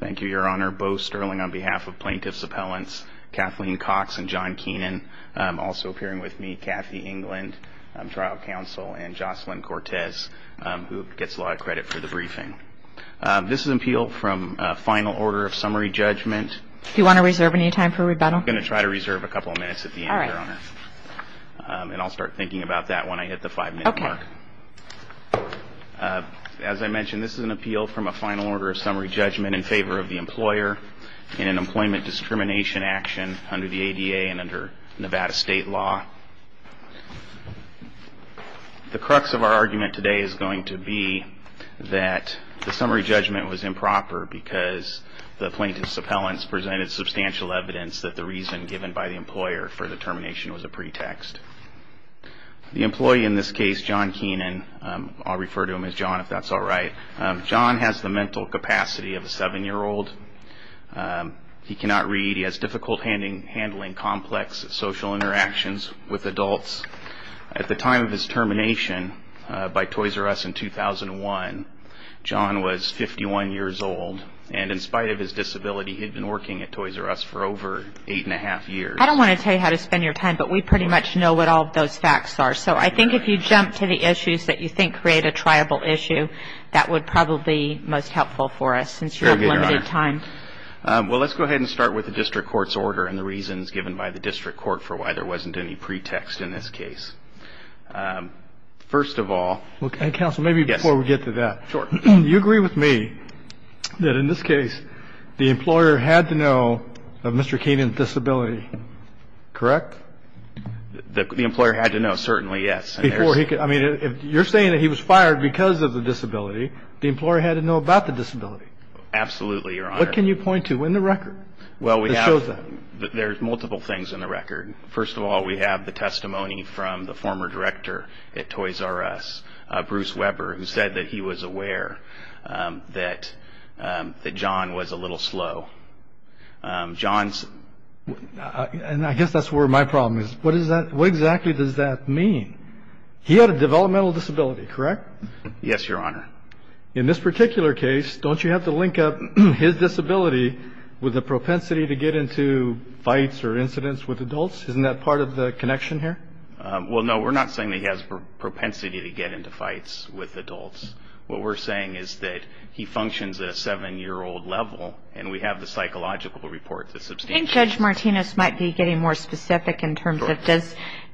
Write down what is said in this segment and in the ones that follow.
Thank you, Your Honor. Bo Sterling on behalf of Plaintiff's Appellants Kathleen Cox and John Keenan, also appearing with me, Kathy England, Trial Counsel, and Jocelyn Cortez, who gets a lot of credit for the briefing. This is an appeal from a final order of summary judgment. Do you want to reserve any time for rebuttal? I'm going to try to reserve a couple of minutes at the end, Your Honor. And I'll start thinking about that when I hit the five-minute mark. As I mentioned, this is an appeal from a final order of summary judgment in favor of the employer in an employment discrimination action under the ADA and under Nevada state law. The crux of our argument today is going to be that the summary judgment was improper because the Plaintiff's Appellants presented substantial evidence that the reason given by the employer for the termination was a pretext. The employee in this case, John Keenan, I'll refer to him as John if that's all right. John has the mental capacity of a seven-year-old. He cannot read. He has difficult handling complex social interactions with adults. At the time of his termination by Toys R Us in 2001, John was 51 years old. And in spite of his disability, he had been working at Toys R Us for over eight and a half years. I don't want to tell you how to spend your time, but we pretty much know what all of those facts are. So I think if you jump to the issues that you think create a triable issue, that would probably be most helpful for us, since you have limited time. Very good, Your Honor. Well, let's go ahead and start with the district court's order and the reasons given by the district court for why there wasn't any pretext in this case. First of all, yes. Counsel, maybe before we get to that. Sure. You agree with me that in this case, the employer had to know of Mr. Keenan's disability, correct? The employer had to know, certainly, yes. Before he could, I mean, you're saying that he was fired because of the disability. The employer had to know about the disability. Absolutely, Your Honor. What can you point to in the record that shows that? There's multiple things in the record. First of all, we have the testimony from the former director at Toys R Us, Bruce Weber, who said that he was aware that John was a little slow. I guess that's where my problem is. What exactly does that mean? He had a developmental disability, correct? Yes, Your Honor. In this particular case, don't you have to link up his disability with the propensity to get into fights or incidents with adults? Isn't that part of the connection here? Well, no. We're not saying that he has propensity to get into fights with adults. What we're saying is that he functions at a seven-year-old level, and we have the psychological report that substantiates that. I think Judge Martinez might be getting more specific in terms of,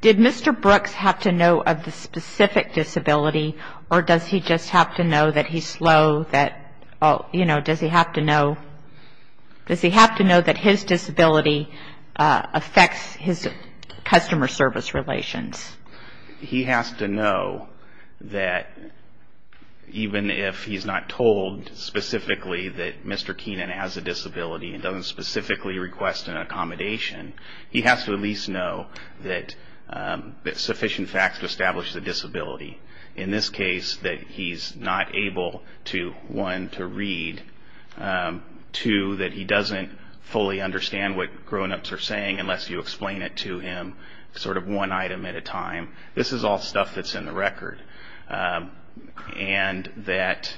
did Mr. Brooks have to know of the specific disability, or does he just have to know that he's slow? Does he have to know that his disability affects his customer service relations? He has to know that even if he's not told specifically that Mr. Keenan has a disability and doesn't specifically request an accommodation, he has to at least know that sufficient facts to establish the disability. In this case, that he's not able to, one, to read, two, that he doesn't fully understand what grown-ups are saying unless you explain it to him, sort of one item at a time. This is all stuff that's in the record, and that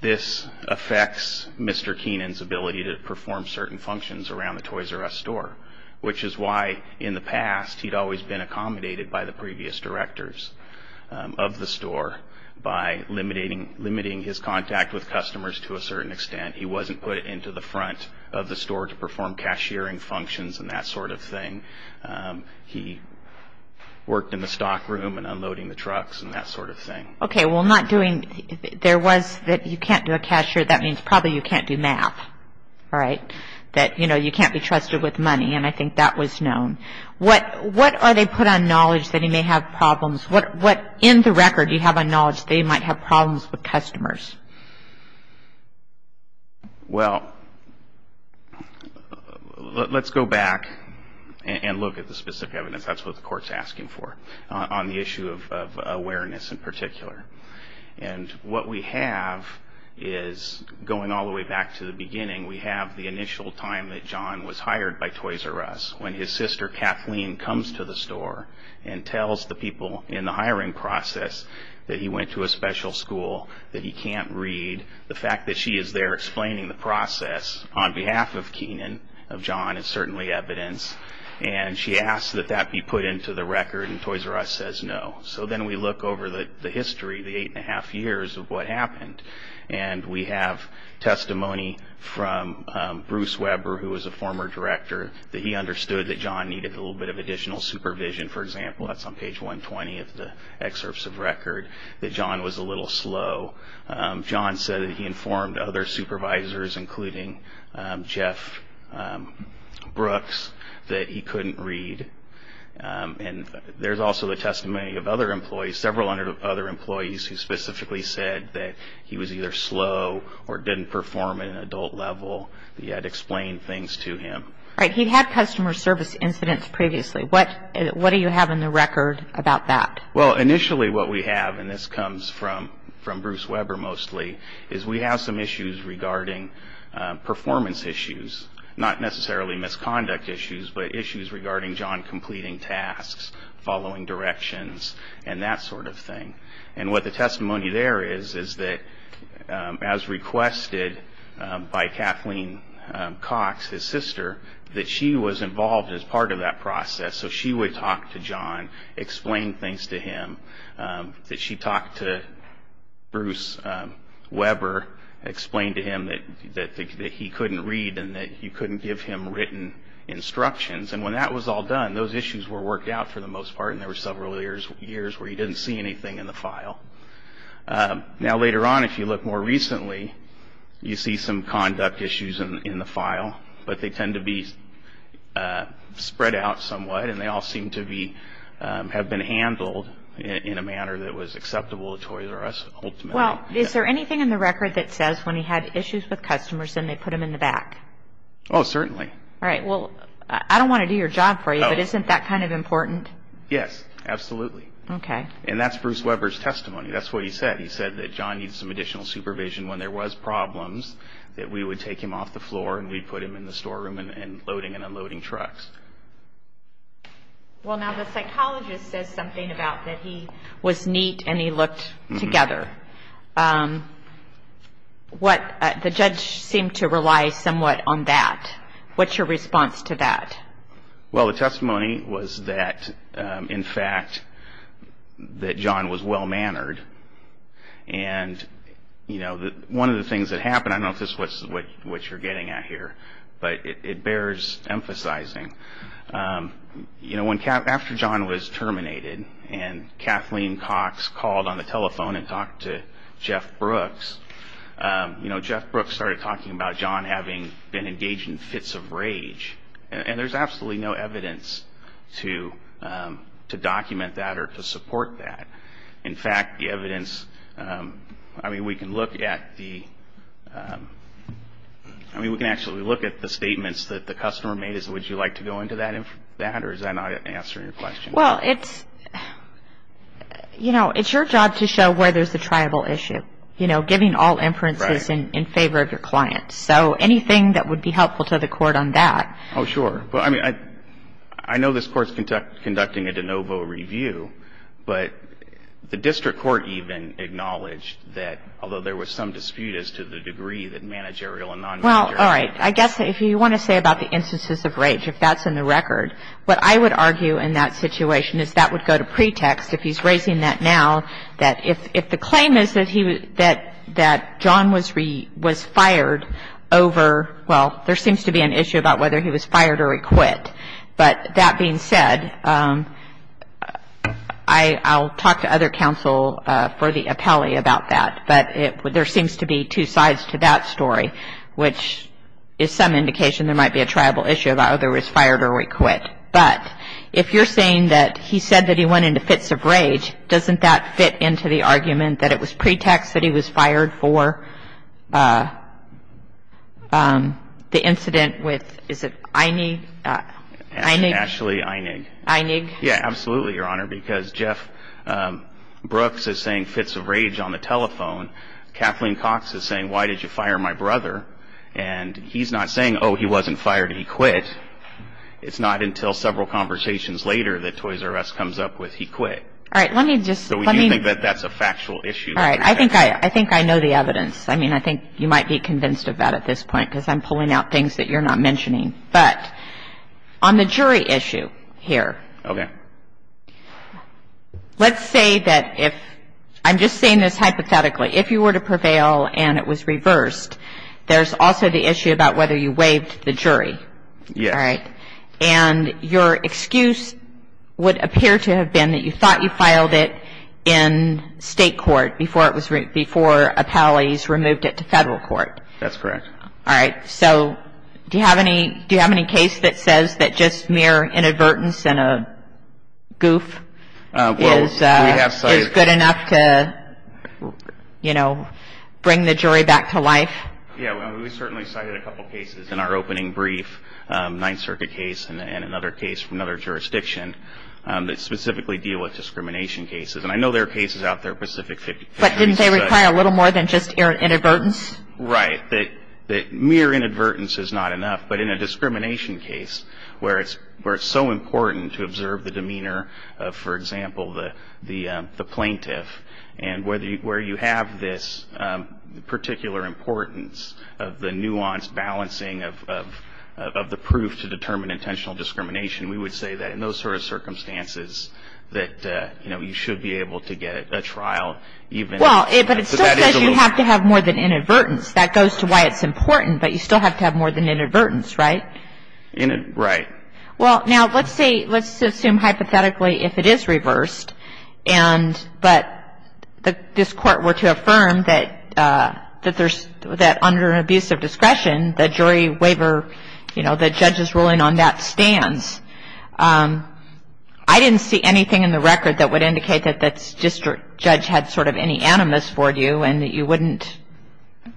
this affects Mr. Keenan's ability to perform certain functions around the Toys R Us store, which is why in the past he'd always been accommodated by the previous directors of the store by limiting his contact with customers to a certain extent. He wasn't put into the front of the store to perform cashiering functions and that sort of thing. He worked in the stock room and unloading the trucks and that sort of thing. Okay, well not doing, there was that you can't do a cashier, that means probably you can't do math, all right? That, you know, you can't be trusted with money, and I think that was known. What are they put on knowledge that he may have problems, what in the record do they put on knowledge that he may have problems? Well, let's go back and look at the specific evidence, that's what the court's asking for, on the issue of awareness in particular. And what we have is, going all the way back to the beginning, we have the initial time that John was hired by Toys R Us, when his sister Kathleen comes to the store and tells the people in the hiring process that he went to a special school, that he can't read. The fact that she is there explaining the process on behalf of Kenan, of John, is certainly evidence, and she asks that that be put into the record and Toys R Us says no. So then we look over the history, the eight and a half years of what happened, and we have testimony from Bruce Weber, who was a former director, that he understood that John needed a little bit of additional supervision, for example, that's on page 120 of the excerpts of record, that John was a little slow. John said that he informed other supervisors, including Jeff Brooks, that he couldn't read. And there's also the testimony of other employees, several other employees, who specifically said that he was either slow or didn't perform at an adult level, that he had to explain things to him. Alright, he had customer service incidents previously, what do you have in the record about that? Well initially what we have, and this comes from Bruce Weber mostly, is we have some issues regarding performance issues, not necessarily misconduct issues, but issues regarding John completing tasks, following directions, and that sort of thing. And what the testimony there is, is that as requested by Kathleen Cox, his sister, that she was involved as part of that process. So she would talk to John, explain things to him, that she talked to Bruce Weber, explained to him that he couldn't read and that you couldn't give him written instructions. And when that was all done, those issues were worked out for the most part in the file. Now later on, if you look more recently, you see some conduct issues in the file, but they tend to be spread out somewhat, and they all seem to be, have been handled in a manner that was acceptable to Toys R Us ultimately. Is there anything in the record that says when he had issues with customers, then they put him in the back? Oh, certainly. Alright, well, I don't want to do your job for you, but isn't that kind of important? Yes, absolutely. And that's Bruce Weber's testimony. That's what he said. He said that John needs some additional supervision. When there was problems, that we would take him off the floor and we'd put him in the storeroom and loading and unloading trucks. Well, now the psychologist says something about that he was neat and he looked together. The judge seemed to rely somewhat on that. What's your response to that? Well, the testimony was that, in fact, that John was well-mannered. And, you know, one of the things that happened, I don't know if this is what you're getting at here, but it bears emphasizing. You know, after John was terminated and Kathleen Cox called on the telephone and talked to Jeff Brooks, you know, Jeff Brooks started talking about John having been engaged in fits of rage. And there's absolutely no evidence to document that or to support that. In fact, the evidence, I mean, we can look at the, I mean, we can actually look at the statements that the customer made. Would you like to go into that or is that not answering your question? Well, it's, you know, it's your job to show where there's a tribal issue. You know, giving all inferences in favor of your client. So anything that would be helpful to the court on that? Oh, sure. I mean, I know this Court's conducting a de novo review, but the District Court even acknowledged that, although there was some dispute as to the degree that managerial and non-managerial. Well, all right. I guess if you want to say about the instances of rage, if that's in the record, what I would argue in that situation is that would go to pretext, if he's raising that now, that if the claim is that he, that John was fired over, well, there seems to be an issue about whether he was fired or he quit. But that being said, I'll talk to other counsel for the appellee about that. But there seems to be two sides to that story, which is some indication there might be a tribal issue about whether he was fired or he quit. Now, as far as fits of rage, doesn't that fit into the argument that it was pretext that he was fired for the incident with, is it Einig? Ashley Einig. Einig? Yeah, absolutely, Your Honor, because Jeff Brooks is saying fits of rage on the telephone. Kathleen Cox is saying, why did you fire my brother? And he's not saying, oh, he wasn't fired, he quit. It's not until several conversations later that Toys R Us comes up with he quit. All right, let me just So we do think that that's a factual issue All right, I think I know the evidence. I mean, I think you might be convinced of that at this point, because I'm pulling out things that you're not mentioning. But on the jury issue here, let's say that if, I'm just saying this hypothetically, if you were to prevail and it was reversed, there's also the issue about whether you waived the jury, all right? And your excuse would appear to have been that you thought you filed it in state court before it was, before appellees removed it to federal court. That's correct. All right, so do you have any, do you have any case that says that just mere inadvertence and a goof is good enough to, you know, bring the jury back to life? Yeah, we certainly cited a couple cases in our opening brief, Ninth Circuit case and another case from another jurisdiction that specifically deal with discrimination cases. And I know there are cases out there, Pacific 50, 50, but But didn't they require a little more than just inadvertence? Right, that mere inadvertence is not enough. But in a discrimination case, where it's so important to observe the demeanor of, for example, the plaintiff, and where you have this particular importance of the nuanced balancing of the proof to determine intentional discrimination, we would say that in those sort of circumstances, that, you know, you should be able to get a trial even if that is a loophole. Well, but it still says you have to have more than inadvertence. That goes to why it's important, but you still have to have more than inadvertence, right? Right. Well, now, let's say, let's assume hypothetically if it is reversed, and, but this Court were to affirm that there's, that under an abuse of discretion, the jury waiver, you know, the judge's ruling on that stands. I didn't see anything in the record that would indicate that this district judge had sort of any animus for you and that you wouldn't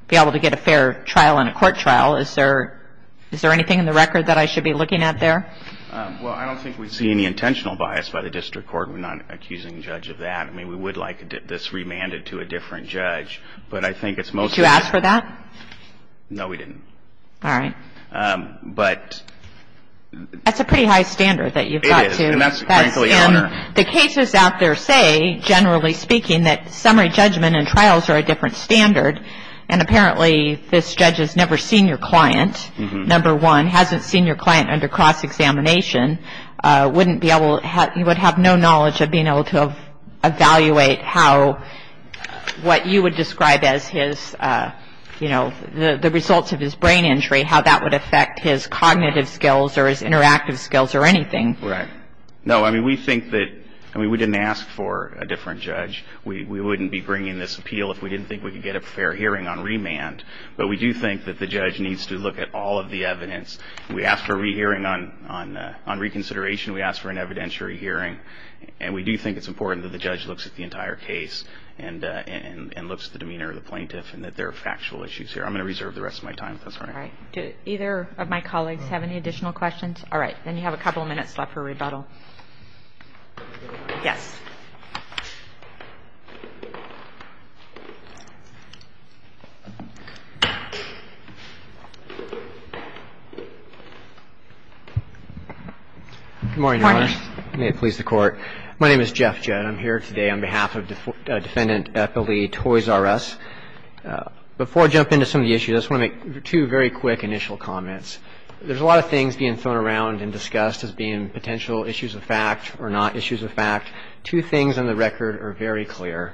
be able to get a fair trial in a court trial. Is there, is there anything in the record that I should be looking at there? Well, I don't think we'd see any intentional bias by the district court. We're not accusing judge of that. I mean, we would like this remanded to a different judge, but I think it's mostly... Did you ask for that? No, we didn't. All right. But... That's a pretty high standard that you've got to... It is, and that's frankly... ...in the cases out there say, generally speaking, that summary judgment and trials are a different standard, and apparently this judge has never seen your client, number one, hasn't seen your client under cross-examination, wouldn't be able, you would have no knowledge of being able to evaluate how, what you would describe as his, you know, the results of his brain injury, how that would affect his cognitive skills or his interactive skills or anything. Right. No, I mean, we think that, I mean, we didn't ask for a different judge. We wouldn't be bringing this appeal if we didn't think we could get a fair hearing on remand, but we do think that the judge needs to look at all of the evidence. We asked for a re-hearing on reconsideration. We asked for an evidentiary hearing, and we do think it's important that the judge looks at the entire case and looks at the demeanor of the plaintiff and that there are factual issues here. I'm going to reserve the rest of my time. All right. Do either of my colleagues have any additional questions? All right. Then you have a couple of minutes left for rebuttal. Yes. Good morning, Your Honor. Good morning. May it please the Court. My name is Jeff Judd. I'm here today on behalf of Defendant Eppley Toys R Us. Before I jump into some of the issues, I just want to make two very quick initial comments. There's a lot of things being thrown around and discussed as being potential issues of fact or not issues of fact. Two things on the record are very clear.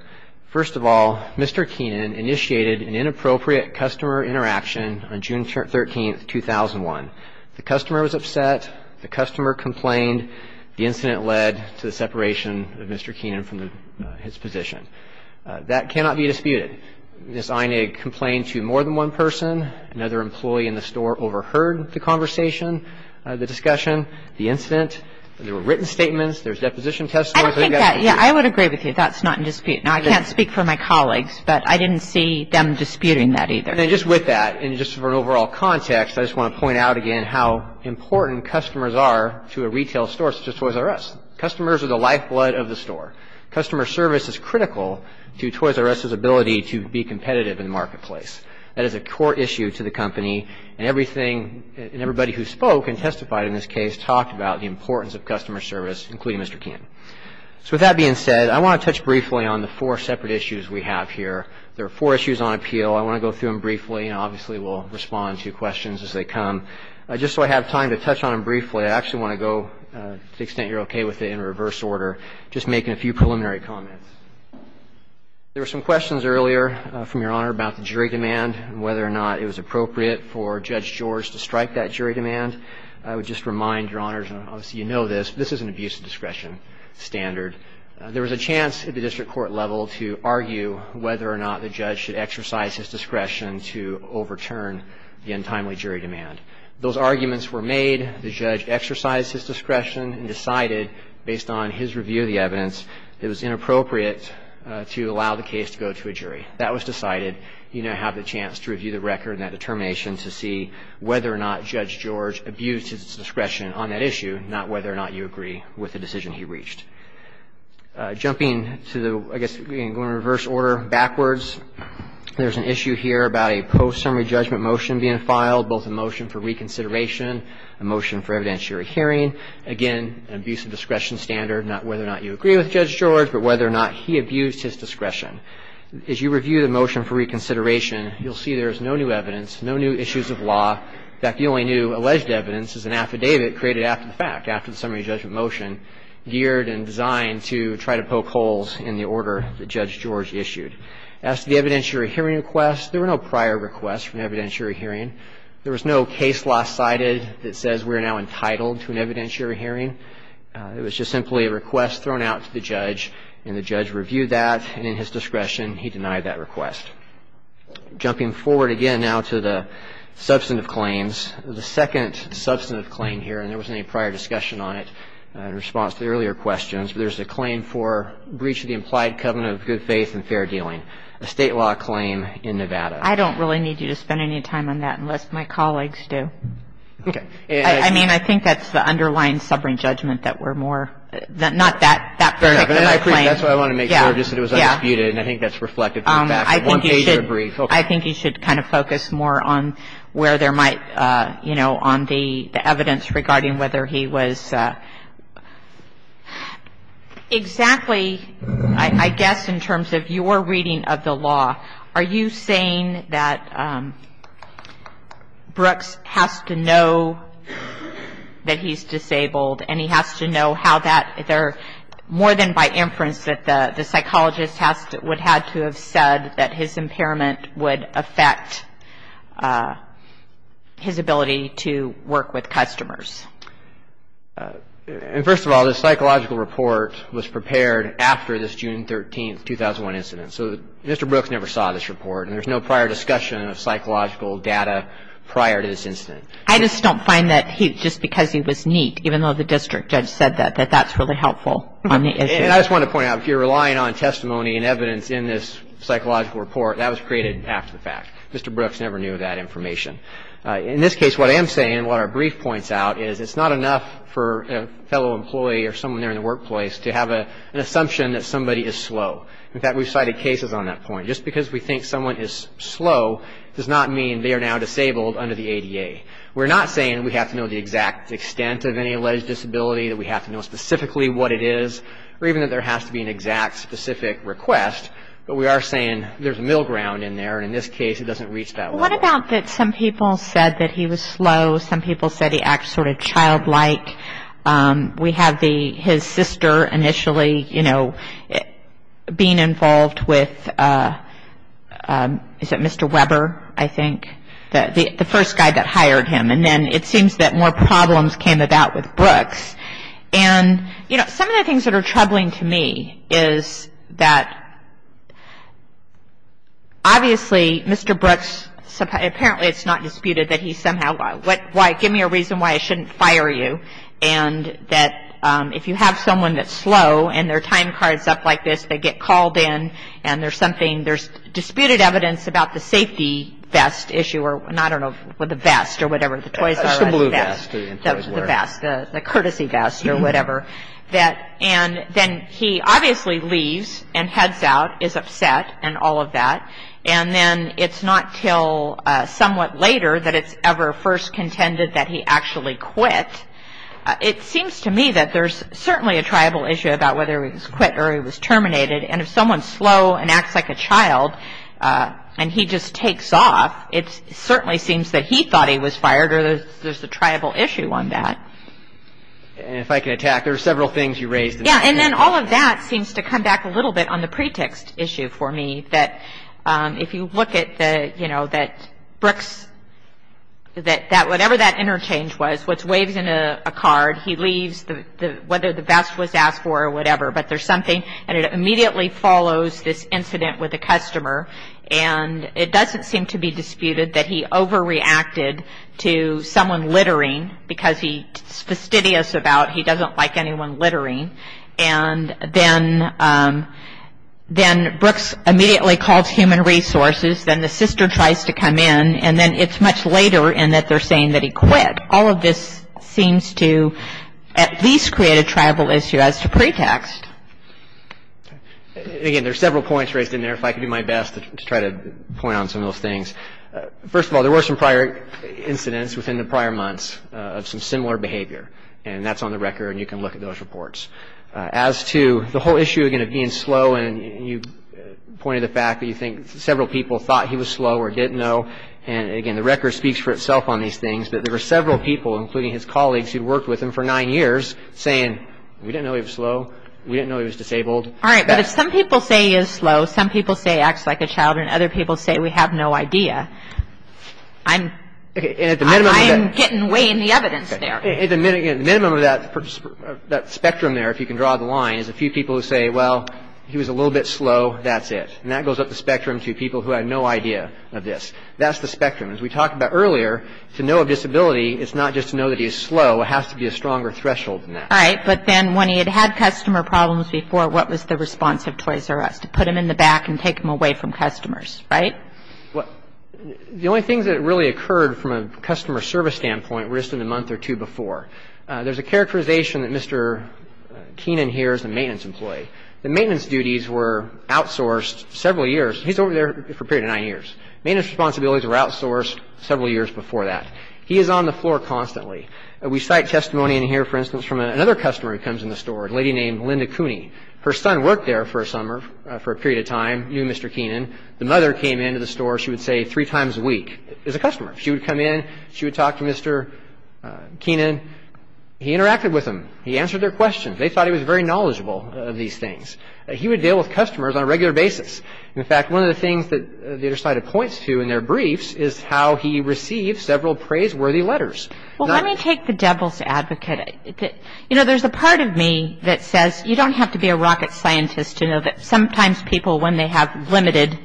First of all, Mr. Keenan initiated an inappropriate customer interaction on June 13, 2001. The customer was upset. The customer complained. The incident led to the separation of Mr. Keenan from his position. That cannot be disputed. Ms. Einig complained to more than one person. Another employee in the store overheard the conversation, the discussion, the incident. There were written statements. There's deposition testimony. I don't think that – yeah, I would agree with you. That's not in dispute. Now, I can't speak for my colleagues, but I didn't see them disputing that either. And just with that, and just for an overall context, I just want to point out again how important customers are to a retail store such as Toys R Us. Customers are the lifeblood of the store. Customer service is critical to Toys R Us' ability to be competitive in the marketplace. That is a core issue to the company, and everything – and everybody who spoke and testified in this case talked about the importance of customer service, including Mr. Keenan. So with that being said, I want to touch briefly on the four separate issues we have here. There are four issues on appeal. I want to go through them briefly, and obviously we'll respond to questions as they come. Just so I have time to touch on them briefly, I actually want to go – to the extent you're okay with it, in reverse order, just making a few remarks about the jury demand and whether or not it was appropriate for Judge George to strike that jury demand. I would just remind Your Honors, and obviously you know this, but this is an abuse of discretion standard. There was a chance at the district court level to argue whether or not the judge should exercise his discretion to overturn the untimely jury demand. Those arguments were made. The judge exercised his discretion and decided, based on his review of the evidence, it was inappropriate to allow the case to go to a jury. That was decided. You now have the chance to review the record and that determination to see whether or not Judge George abused his discretion on that issue, not whether or not you agree with the decision he reached. Jumping to the – I guess going in reverse order backwards, there's an issue here about a post-summary judgment motion being filed, both a motion for reconsideration, a motion for evidentiary hearing. Again, an abuse of discretion standard, not whether or not you agree with Judge George, but whether or not he abused his discretion. As you review the motion for reconsideration, you'll see there's no new evidence, no new issues of law. In fact, the only new alleged evidence is an affidavit created after the fact, after the summary judgment motion, geared and designed to try to poke holes in the order that Judge George issued. As to the evidentiary hearing request, there were no prior requests for an evidentiary hearing. There was no case lost sighted that says we're now entitled to an evidentiary hearing. It was just simply a request thrown out to the judge, and the judge reviewed that, and in his discretion, he denied that request. Jumping forward again now to the substantive claims, the second substantive claim here – and there wasn't any prior discussion on it in response to the earlier questions – but there's a claim for breach of the implied covenant of good faith and fair dealing, a state law claim in Nevada. I don't really need you to spend any time on that unless my colleagues do. Okay. I mean, I think that's the underlying summary judgment that we're more – not that particular claim. That's what I want to make sure, just that it was undisputed, and I think that's reflected from the fact that one page of the brief – okay. I think you should kind of focus more on where there might – you know, on the evidence regarding whether he was – exactly, I guess, in terms of your reading of the law, are you saying that Brooks has to know that he's disabled, and he has to know how that – there would – and by inference, that the psychologist has to – would have to have said that his impairment would affect his ability to work with customers. And first of all, the psychological report was prepared after this June 13, 2001, incident. So Mr. Brooks never saw this report, and there's no prior discussion of psychological data prior to this incident. I just don't find that he – just because he was neat, even though the district judge said that, that that's really helpful on the issue. And I just want to point out, if you're relying on testimony and evidence in this psychological report, that was created after the fact. Mr. Brooks never knew that information. In this case, what I am saying, and what our brief points out, is it's not enough for a fellow employee or someone there in the workplace to have an assumption that somebody is slow. In fact, we've cited cases on that point. Just because we think someone is slow does not mean they are now disabled under the ADA. We're not saying that we have to know the exact extent of any alleged disability that we have to know specifically what it is, or even that there has to be an exact, specific request. But we are saying there's a middle ground in there, and in this case, it doesn't reach that level. What about that some people said that he was slow, some people said he acts sort of childlike. We have the – his sister initially, you know, being involved with – is it Mr. Weber, I think, the first guy that hired him. And then it seems that more problems came about with Brooks. And, you know, some of the things that are troubling to me is that, obviously, Mr. Brooks – apparently it's not disputed that he somehow – give me a reason why I shouldn't fire you, and that if you have someone that's slow, and their time card's up like this, they get called in, and there's something – there's disputed evidence about the Toys R Us vest. The blue vest. The vest. The courtesy vest, or whatever. And then he obviously leaves, and heads out, is upset, and all of that. And then it's not until somewhat later that it's ever first contended that he actually quit. It seems to me that there's certainly a tribal issue about whether he was quit or he was terminated. And if someone's slow and acts like a child, and he just takes off, it certainly seems that he thought he was fired, or there's a tribal issue on that. And if I can attack, there are several things you raised. Yeah. And then all of that seems to come back a little bit on the pretext issue for me. That if you look at the, you know, that Brooks – that whatever that interchange was, which waves in a card, he leaves, whether the vest was asked for or whatever. But there's something – and it immediately follows this incident with the customer, and it doesn't seem to be disputed that he overreacted to someone littering, because he's fastidious about – he doesn't like anyone littering. And then Brooks immediately calls Human Resources, then the sister tries to come in, and then it's much later in that they're saying that he quit. All of this seems to at least create a tribal issue as to pretext. Again, there are several points raised in there, if I could do my best to try to point on some of those things. First of all, there were some prior incidents within the prior months of some similar behavior, and that's on the record, and you can look at those reports. As to the whole issue, again, of being slow, and you pointed to the fact that you think several people thought he was slow or didn't know, and again, the record speaks for itself on these things, that there were several people, including his colleagues who'd worked with him for nine years, saying, we didn't know he was slow, we didn't know he was disabled. All right, but if some people say he is slow, some people say he acts like a child, and other people say we have no idea, I'm getting way in the evidence there. At the minimum of that spectrum there, if you can draw the line, is a few people who say, well, he was a little bit slow, that's it, and that goes up the spectrum to people who had no idea of this. That's the spectrum. As we talked about earlier, to know a disability, it's not just to know that he's slow, it has to be a stronger threshold than that. All right, but then when he had had customer problems before, what was the response of Toys R Us? To put him in the back and take him away from customers, right? The only things that really occurred from a customer service standpoint were just in the month or two before. There's a characterization that Mr. Keenan here is a maintenance employee. The maintenance duties were outsourced several years. He's over there for a period of nine years. Maintenance responsibilities were outsourced several years before that. He is on the floor constantly. We cite testimony in here, for instance, from another customer who comes in the store, a lady named Linda Cooney. Her son worked there for a summer, for a period of time, knew Mr. Keenan. The mother came into the store, she would say, three times a week as a customer. She would come in, she would talk to Mr. Keenan. He interacted with them. He answered their questions. They thought he was very knowledgeable of these things. He would deal with customers on a regular basis. In fact, one of the things that the other side points to in their briefs is how he received several praiseworthy letters. Well, let me take the devil's advocate. There's a part of me that says you don't have to be a rocket scientist to know that sometimes people, when they have limited,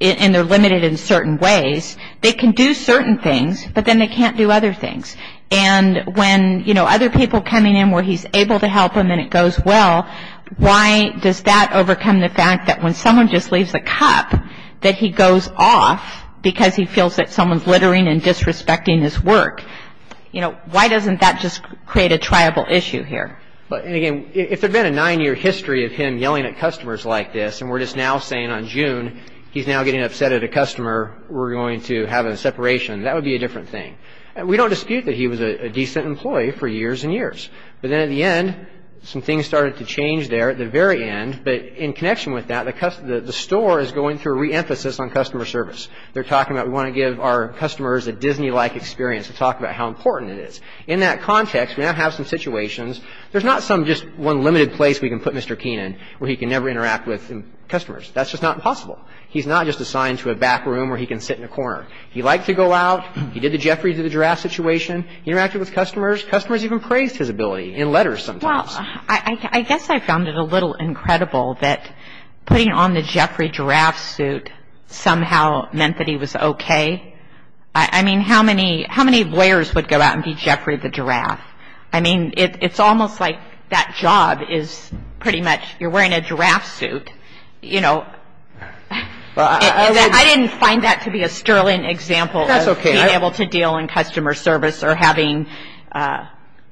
and they're limited in certain ways, they can do certain things, but then they can't do other things. And when other people coming in where he's able to help them and it goes well, why does that overcome the fact that when someone just leaves a cup, that he goes off because he can't drink? You know, why doesn't that just create a triable issue here? And again, if there had been a nine-year history of him yelling at customers like this, and we're just now saying on June, he's now getting upset at a customer, we're going to have a separation, that would be a different thing. We don't dispute that he was a decent employee for years and years, but then at the end, some things started to change there at the very end, but in connection with that, the store is going through a re-emphasis on customer service. They're talking about, we want to give our customers a Disney-like experience to talk about how important it is. In that context, we now have some situations, there's not just one limited place we can put Mr. Keenan where he can never interact with customers. That's just not possible. He's not just assigned to a back room where he can sit in a corner. He liked to go out, he did the Jeffrey to the giraffe situation, he interacted with customers, customers even praised his ability in letters sometimes. Well, I guess I found it a little incredible that putting on the Jeffrey giraffe suit somehow meant that he was okay. I mean, how many lawyers would go out and be Jeffrey the giraffe? I mean, it's almost like that job is pretty much, you're wearing a giraffe suit, you know. I didn't find that to be a sterling example of being able to deal in customer service or having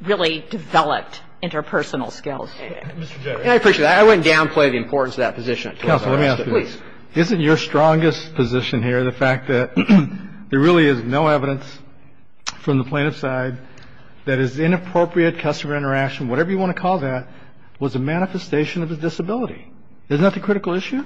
really developed interpersonal skills. I appreciate that. I wouldn't downplay the importance of that position. Counsel, let me ask you this. Isn't your strongest position here the fact that there really is no evidence from the plaintiff's side that his inappropriate customer interaction, whatever you want to call that, was a manifestation of his disability? Isn't that the critical issue?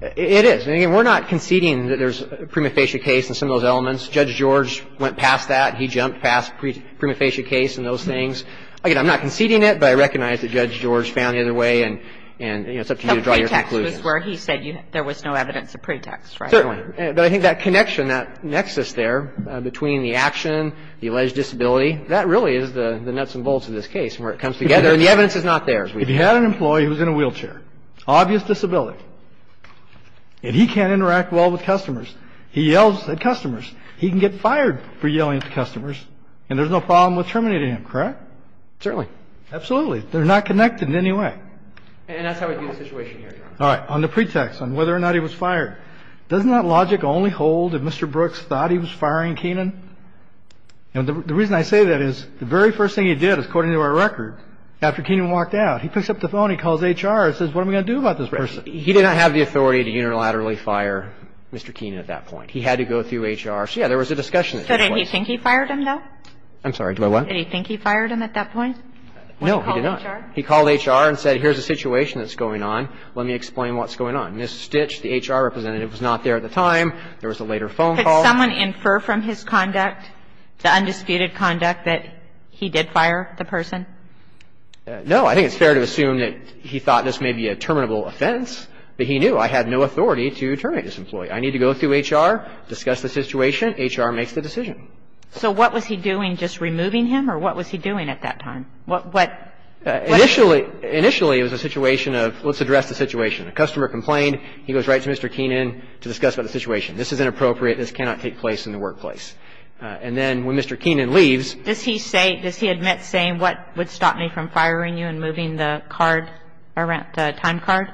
It is. And again, we're not conceding that there's a prima facie case and some of those elements. Judge George went past that. He jumped past prima facie case and those things. Again, I'm not conceding it, but I recognize that Judge George found the other way. And it's up to you to draw your conclusions. The pretext was where he said there was no evidence of pretext, right? Certainly. But I think that connection, that nexus there between the action, the alleged disability, that really is the nuts and bolts of this case where it comes together and the evidence is not there. If you had an employee who was in a wheelchair, obvious disability, and he can't interact well with customers, he yells at customers, he can get fired for yelling at customers, and there's no problem with terminating him, correct? Certainly. Absolutely. They're not connected in any way. And that's how we view the situation here, Your Honor. All right. On the pretext, on whether or not he was fired, doesn't that logic only hold if Mr. Brooks thought he was firing Keenan? And the reason I say that is the very first thing he did, according to our record, after Keenan walked out, he picks up the phone, he calls HR and says, what am I going to do about this person? He did not have the authority to unilaterally fire Mr. Keenan at that point. He had to go through HR. So, yeah, there was a discussion. So didn't he think he fired him, though? I'm sorry, do I what? Did he think he fired him at that point? No, he did not. He called HR and said, here's the situation that's going on, let me explain what's going on. Ms. Stitch, the HR representative, was not there at the time. There was a later phone call. Could someone infer from his conduct, the undisputed conduct, that he did fire the person? No. I think it's fair to assume that he thought this may be a terminable offense, but he knew I had no authority to terminate this employee. I need to go through HR, discuss the situation, HR makes the decision. So what was he doing, just removing him, or what was he doing at that time? What? Initially, initially it was a situation of, let's address the situation. A customer complained, he goes right to Mr. Keenan to discuss about the situation. This is inappropriate. This cannot take place in the workplace. And then when Mr. Keenan leaves. Does he say, does he admit saying, what would stop me from firing you and moving the card, the time card?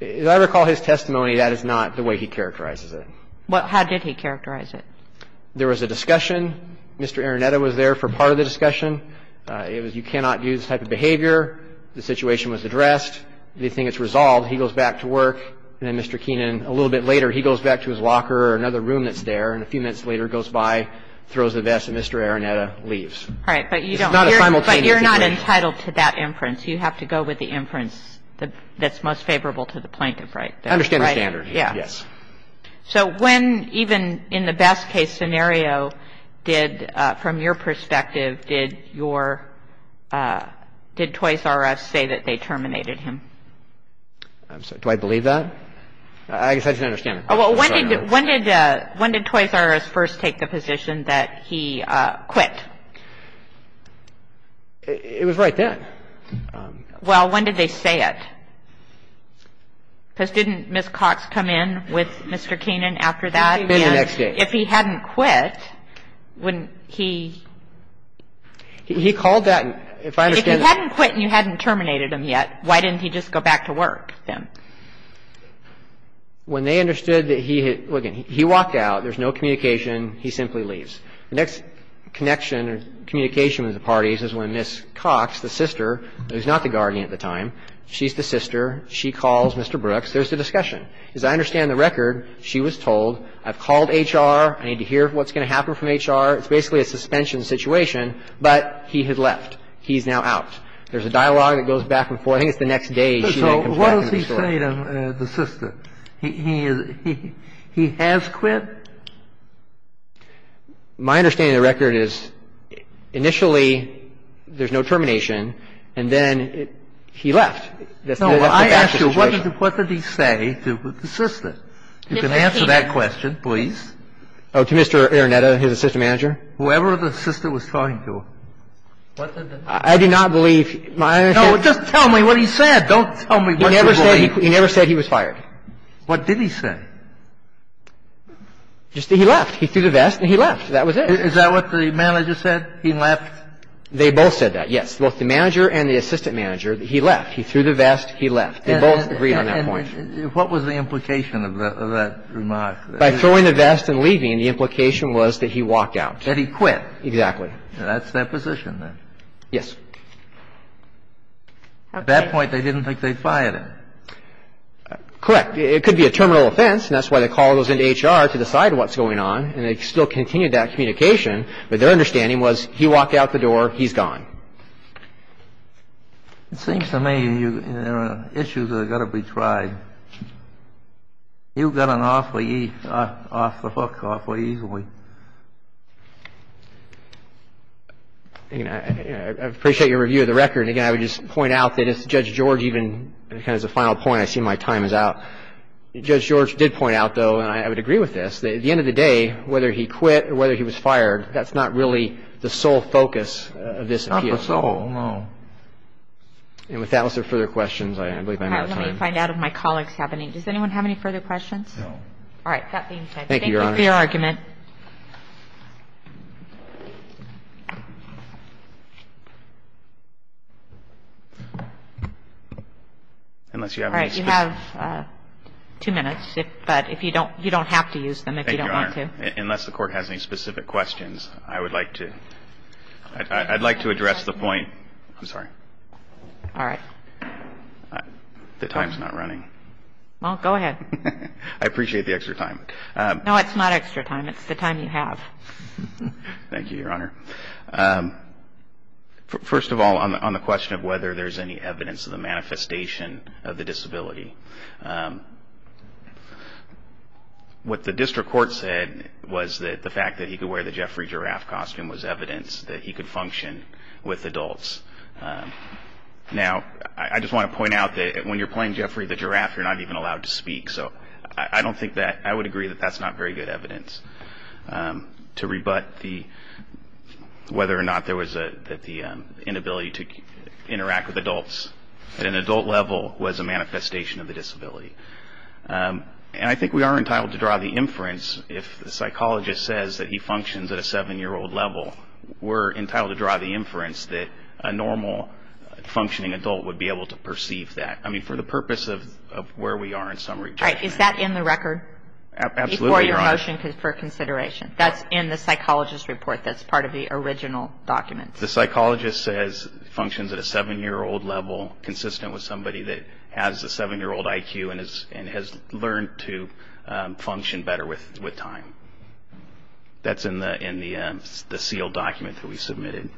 As I recall his testimony, that is not the way he characterizes it. Well, how did he characterize it? There was a discussion. Mr. Araneta was there for part of the discussion. It was, you cannot do this type of behavior. The situation was addressed. They think it's resolved. He goes back to work. And then Mr. Keenan, a little bit later, he goes back to his locker or another room that's there. And a few minutes later, goes by, throws the vest, and Mr. Araneta leaves. All right. But you don't, but you're not entitled to that inference. You have to go with the inference that's most favorable to the plaintiff, right? I understand the standard. Yeah. Yes. So when, even in the best case scenario, did, from your perspective, did your, did Toys R Us say that they terminated him? I'm sorry. Do I believe that? I guess I just don't understand. Oh, well, when did, when did, when did Toys R Us first take the position that he quit? It was right then. Well, when did they say it? Because didn't Ms. Cox come in with Mr. Keenan after that? It would have been the next day. And if he hadn't quit, wouldn't he? He called that, if I understand. If he hadn't quit and you hadn't terminated him yet, why didn't he just go back to work then? When they understood that he had, well, again, he walked out. There's no communication. He simply leaves. The next connection or communication with the parties is when Ms. Cox, the sister, who's not the guardian at the time, she's the sister. She calls Mr. Brooks. There's the discussion. As I understand the record, she was told, I've called HR. I need to hear what's going to happen from HR. It's basically a suspension situation. But he had left. He's now out. There's a dialogue that goes back and forth. I think it's the next day she comes back and resorts. So what does he say to the sister? He has quit? My understanding of the record is initially there's no termination, and then he left. No, I asked you, what did he say to the sister? You can answer that question, please. Oh, to Mr. Araneta, his assistant manager? Whoever the sister was talking to. I do not believe my understanding. No, just tell me what he said. Don't tell me what you believe. He never said he was fired. What did he say? Just that he left. He threw the vest and he left. That was it. Is that what the manager said? He left? They both said that, yes. Both the manager and the assistant manager, he left. He threw the vest, he left. They both agreed on that point. And what was the implication of that remark? By throwing the vest and leaving, the implication was that he walked out. That he quit. Exactly. That's their position, then. Yes. At that point, they didn't think they'd fired him. Correct. It could be a terminal offense, and that's why they called us into HR to decide what's going on, and they still continued that communication. But their understanding was he walked out the door, he's gone. It seems to me there are issues that have got to be tried. You got off the hook awfully easily. I appreciate your review of the record. Again, I would just point out that if Judge George even has a final point, I see my time is out. Judge George did point out, though, and I would agree with this, that at the end of the day, whether he quit or whether he was fired, that's not really the sole focus of this appeal. Not the sole, no. And with that, was there further questions? I believe I'm out of time. All right. Let me find out if my colleague's having any. Does anyone have any further questions? All right. That being said, thank you for your argument. Thank you, Your Honor. All right. You have two minutes, but if you don't you don't have to use them if you don't want to. Thank you, Your Honor. Unless the Court has any specific questions, I would like to address the point. I'm sorry. All right. The time's not running. Well, go ahead. I appreciate the extra time. No, it's not extra time. It's the time you have. Thank you, Your Honor. First of all, on the question of whether there's any evidence of the manifestation of the disability, what the District Court said was that the fact that he could wear the Jeffrey giraffe costume was evidence that he could function with adults. Now, I just want to point out that when you're playing Jeffrey the giraffe, you're not even allowed to speak. So I don't think that I would agree that that's not very good evidence to rebut whether or not there was the inability to interact with adults. At an adult level, was a manifestation of the disability. And I think we are entitled to draw the inference if the psychologist says that he functions at a seven-year-old level. We're entitled to draw the inference that a normal functioning adult would be able to perceive that. I mean, for the purpose of where we are in summary. All right. Is that in the record before your motion for consideration? That's in the psychologist's report. That's part of the original document. The psychologist says functions at a seven-year-old level, consistent with somebody that has a seven-year-old IQ and has learned to function better with time. That's in the sealed document that we submitted.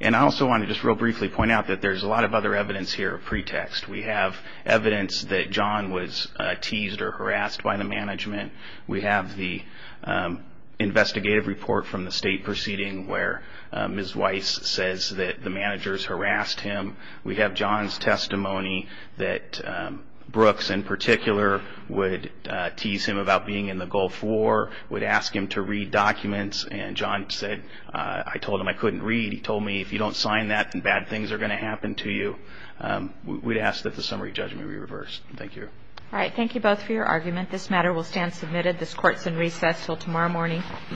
And I also want to just real briefly point out that there's a lot of other evidence here of pretext. We have evidence that John was teased or harassed by the management. We have the investigative report from the state proceeding where Ms. Weiss says that the managers harassed him. We have John's testimony that Brooks, in particular, would tease him about being in the Gulf War, would ask him to read documents. And John said, I told him I couldn't read. He told me, if you don't sign that, then bad things are going to happen to you. We'd ask that the summary judgment be reversed. Thank you. All right. Thank you both for your argument. This matter will stand submitted. This court is in recess until tomorrow morning.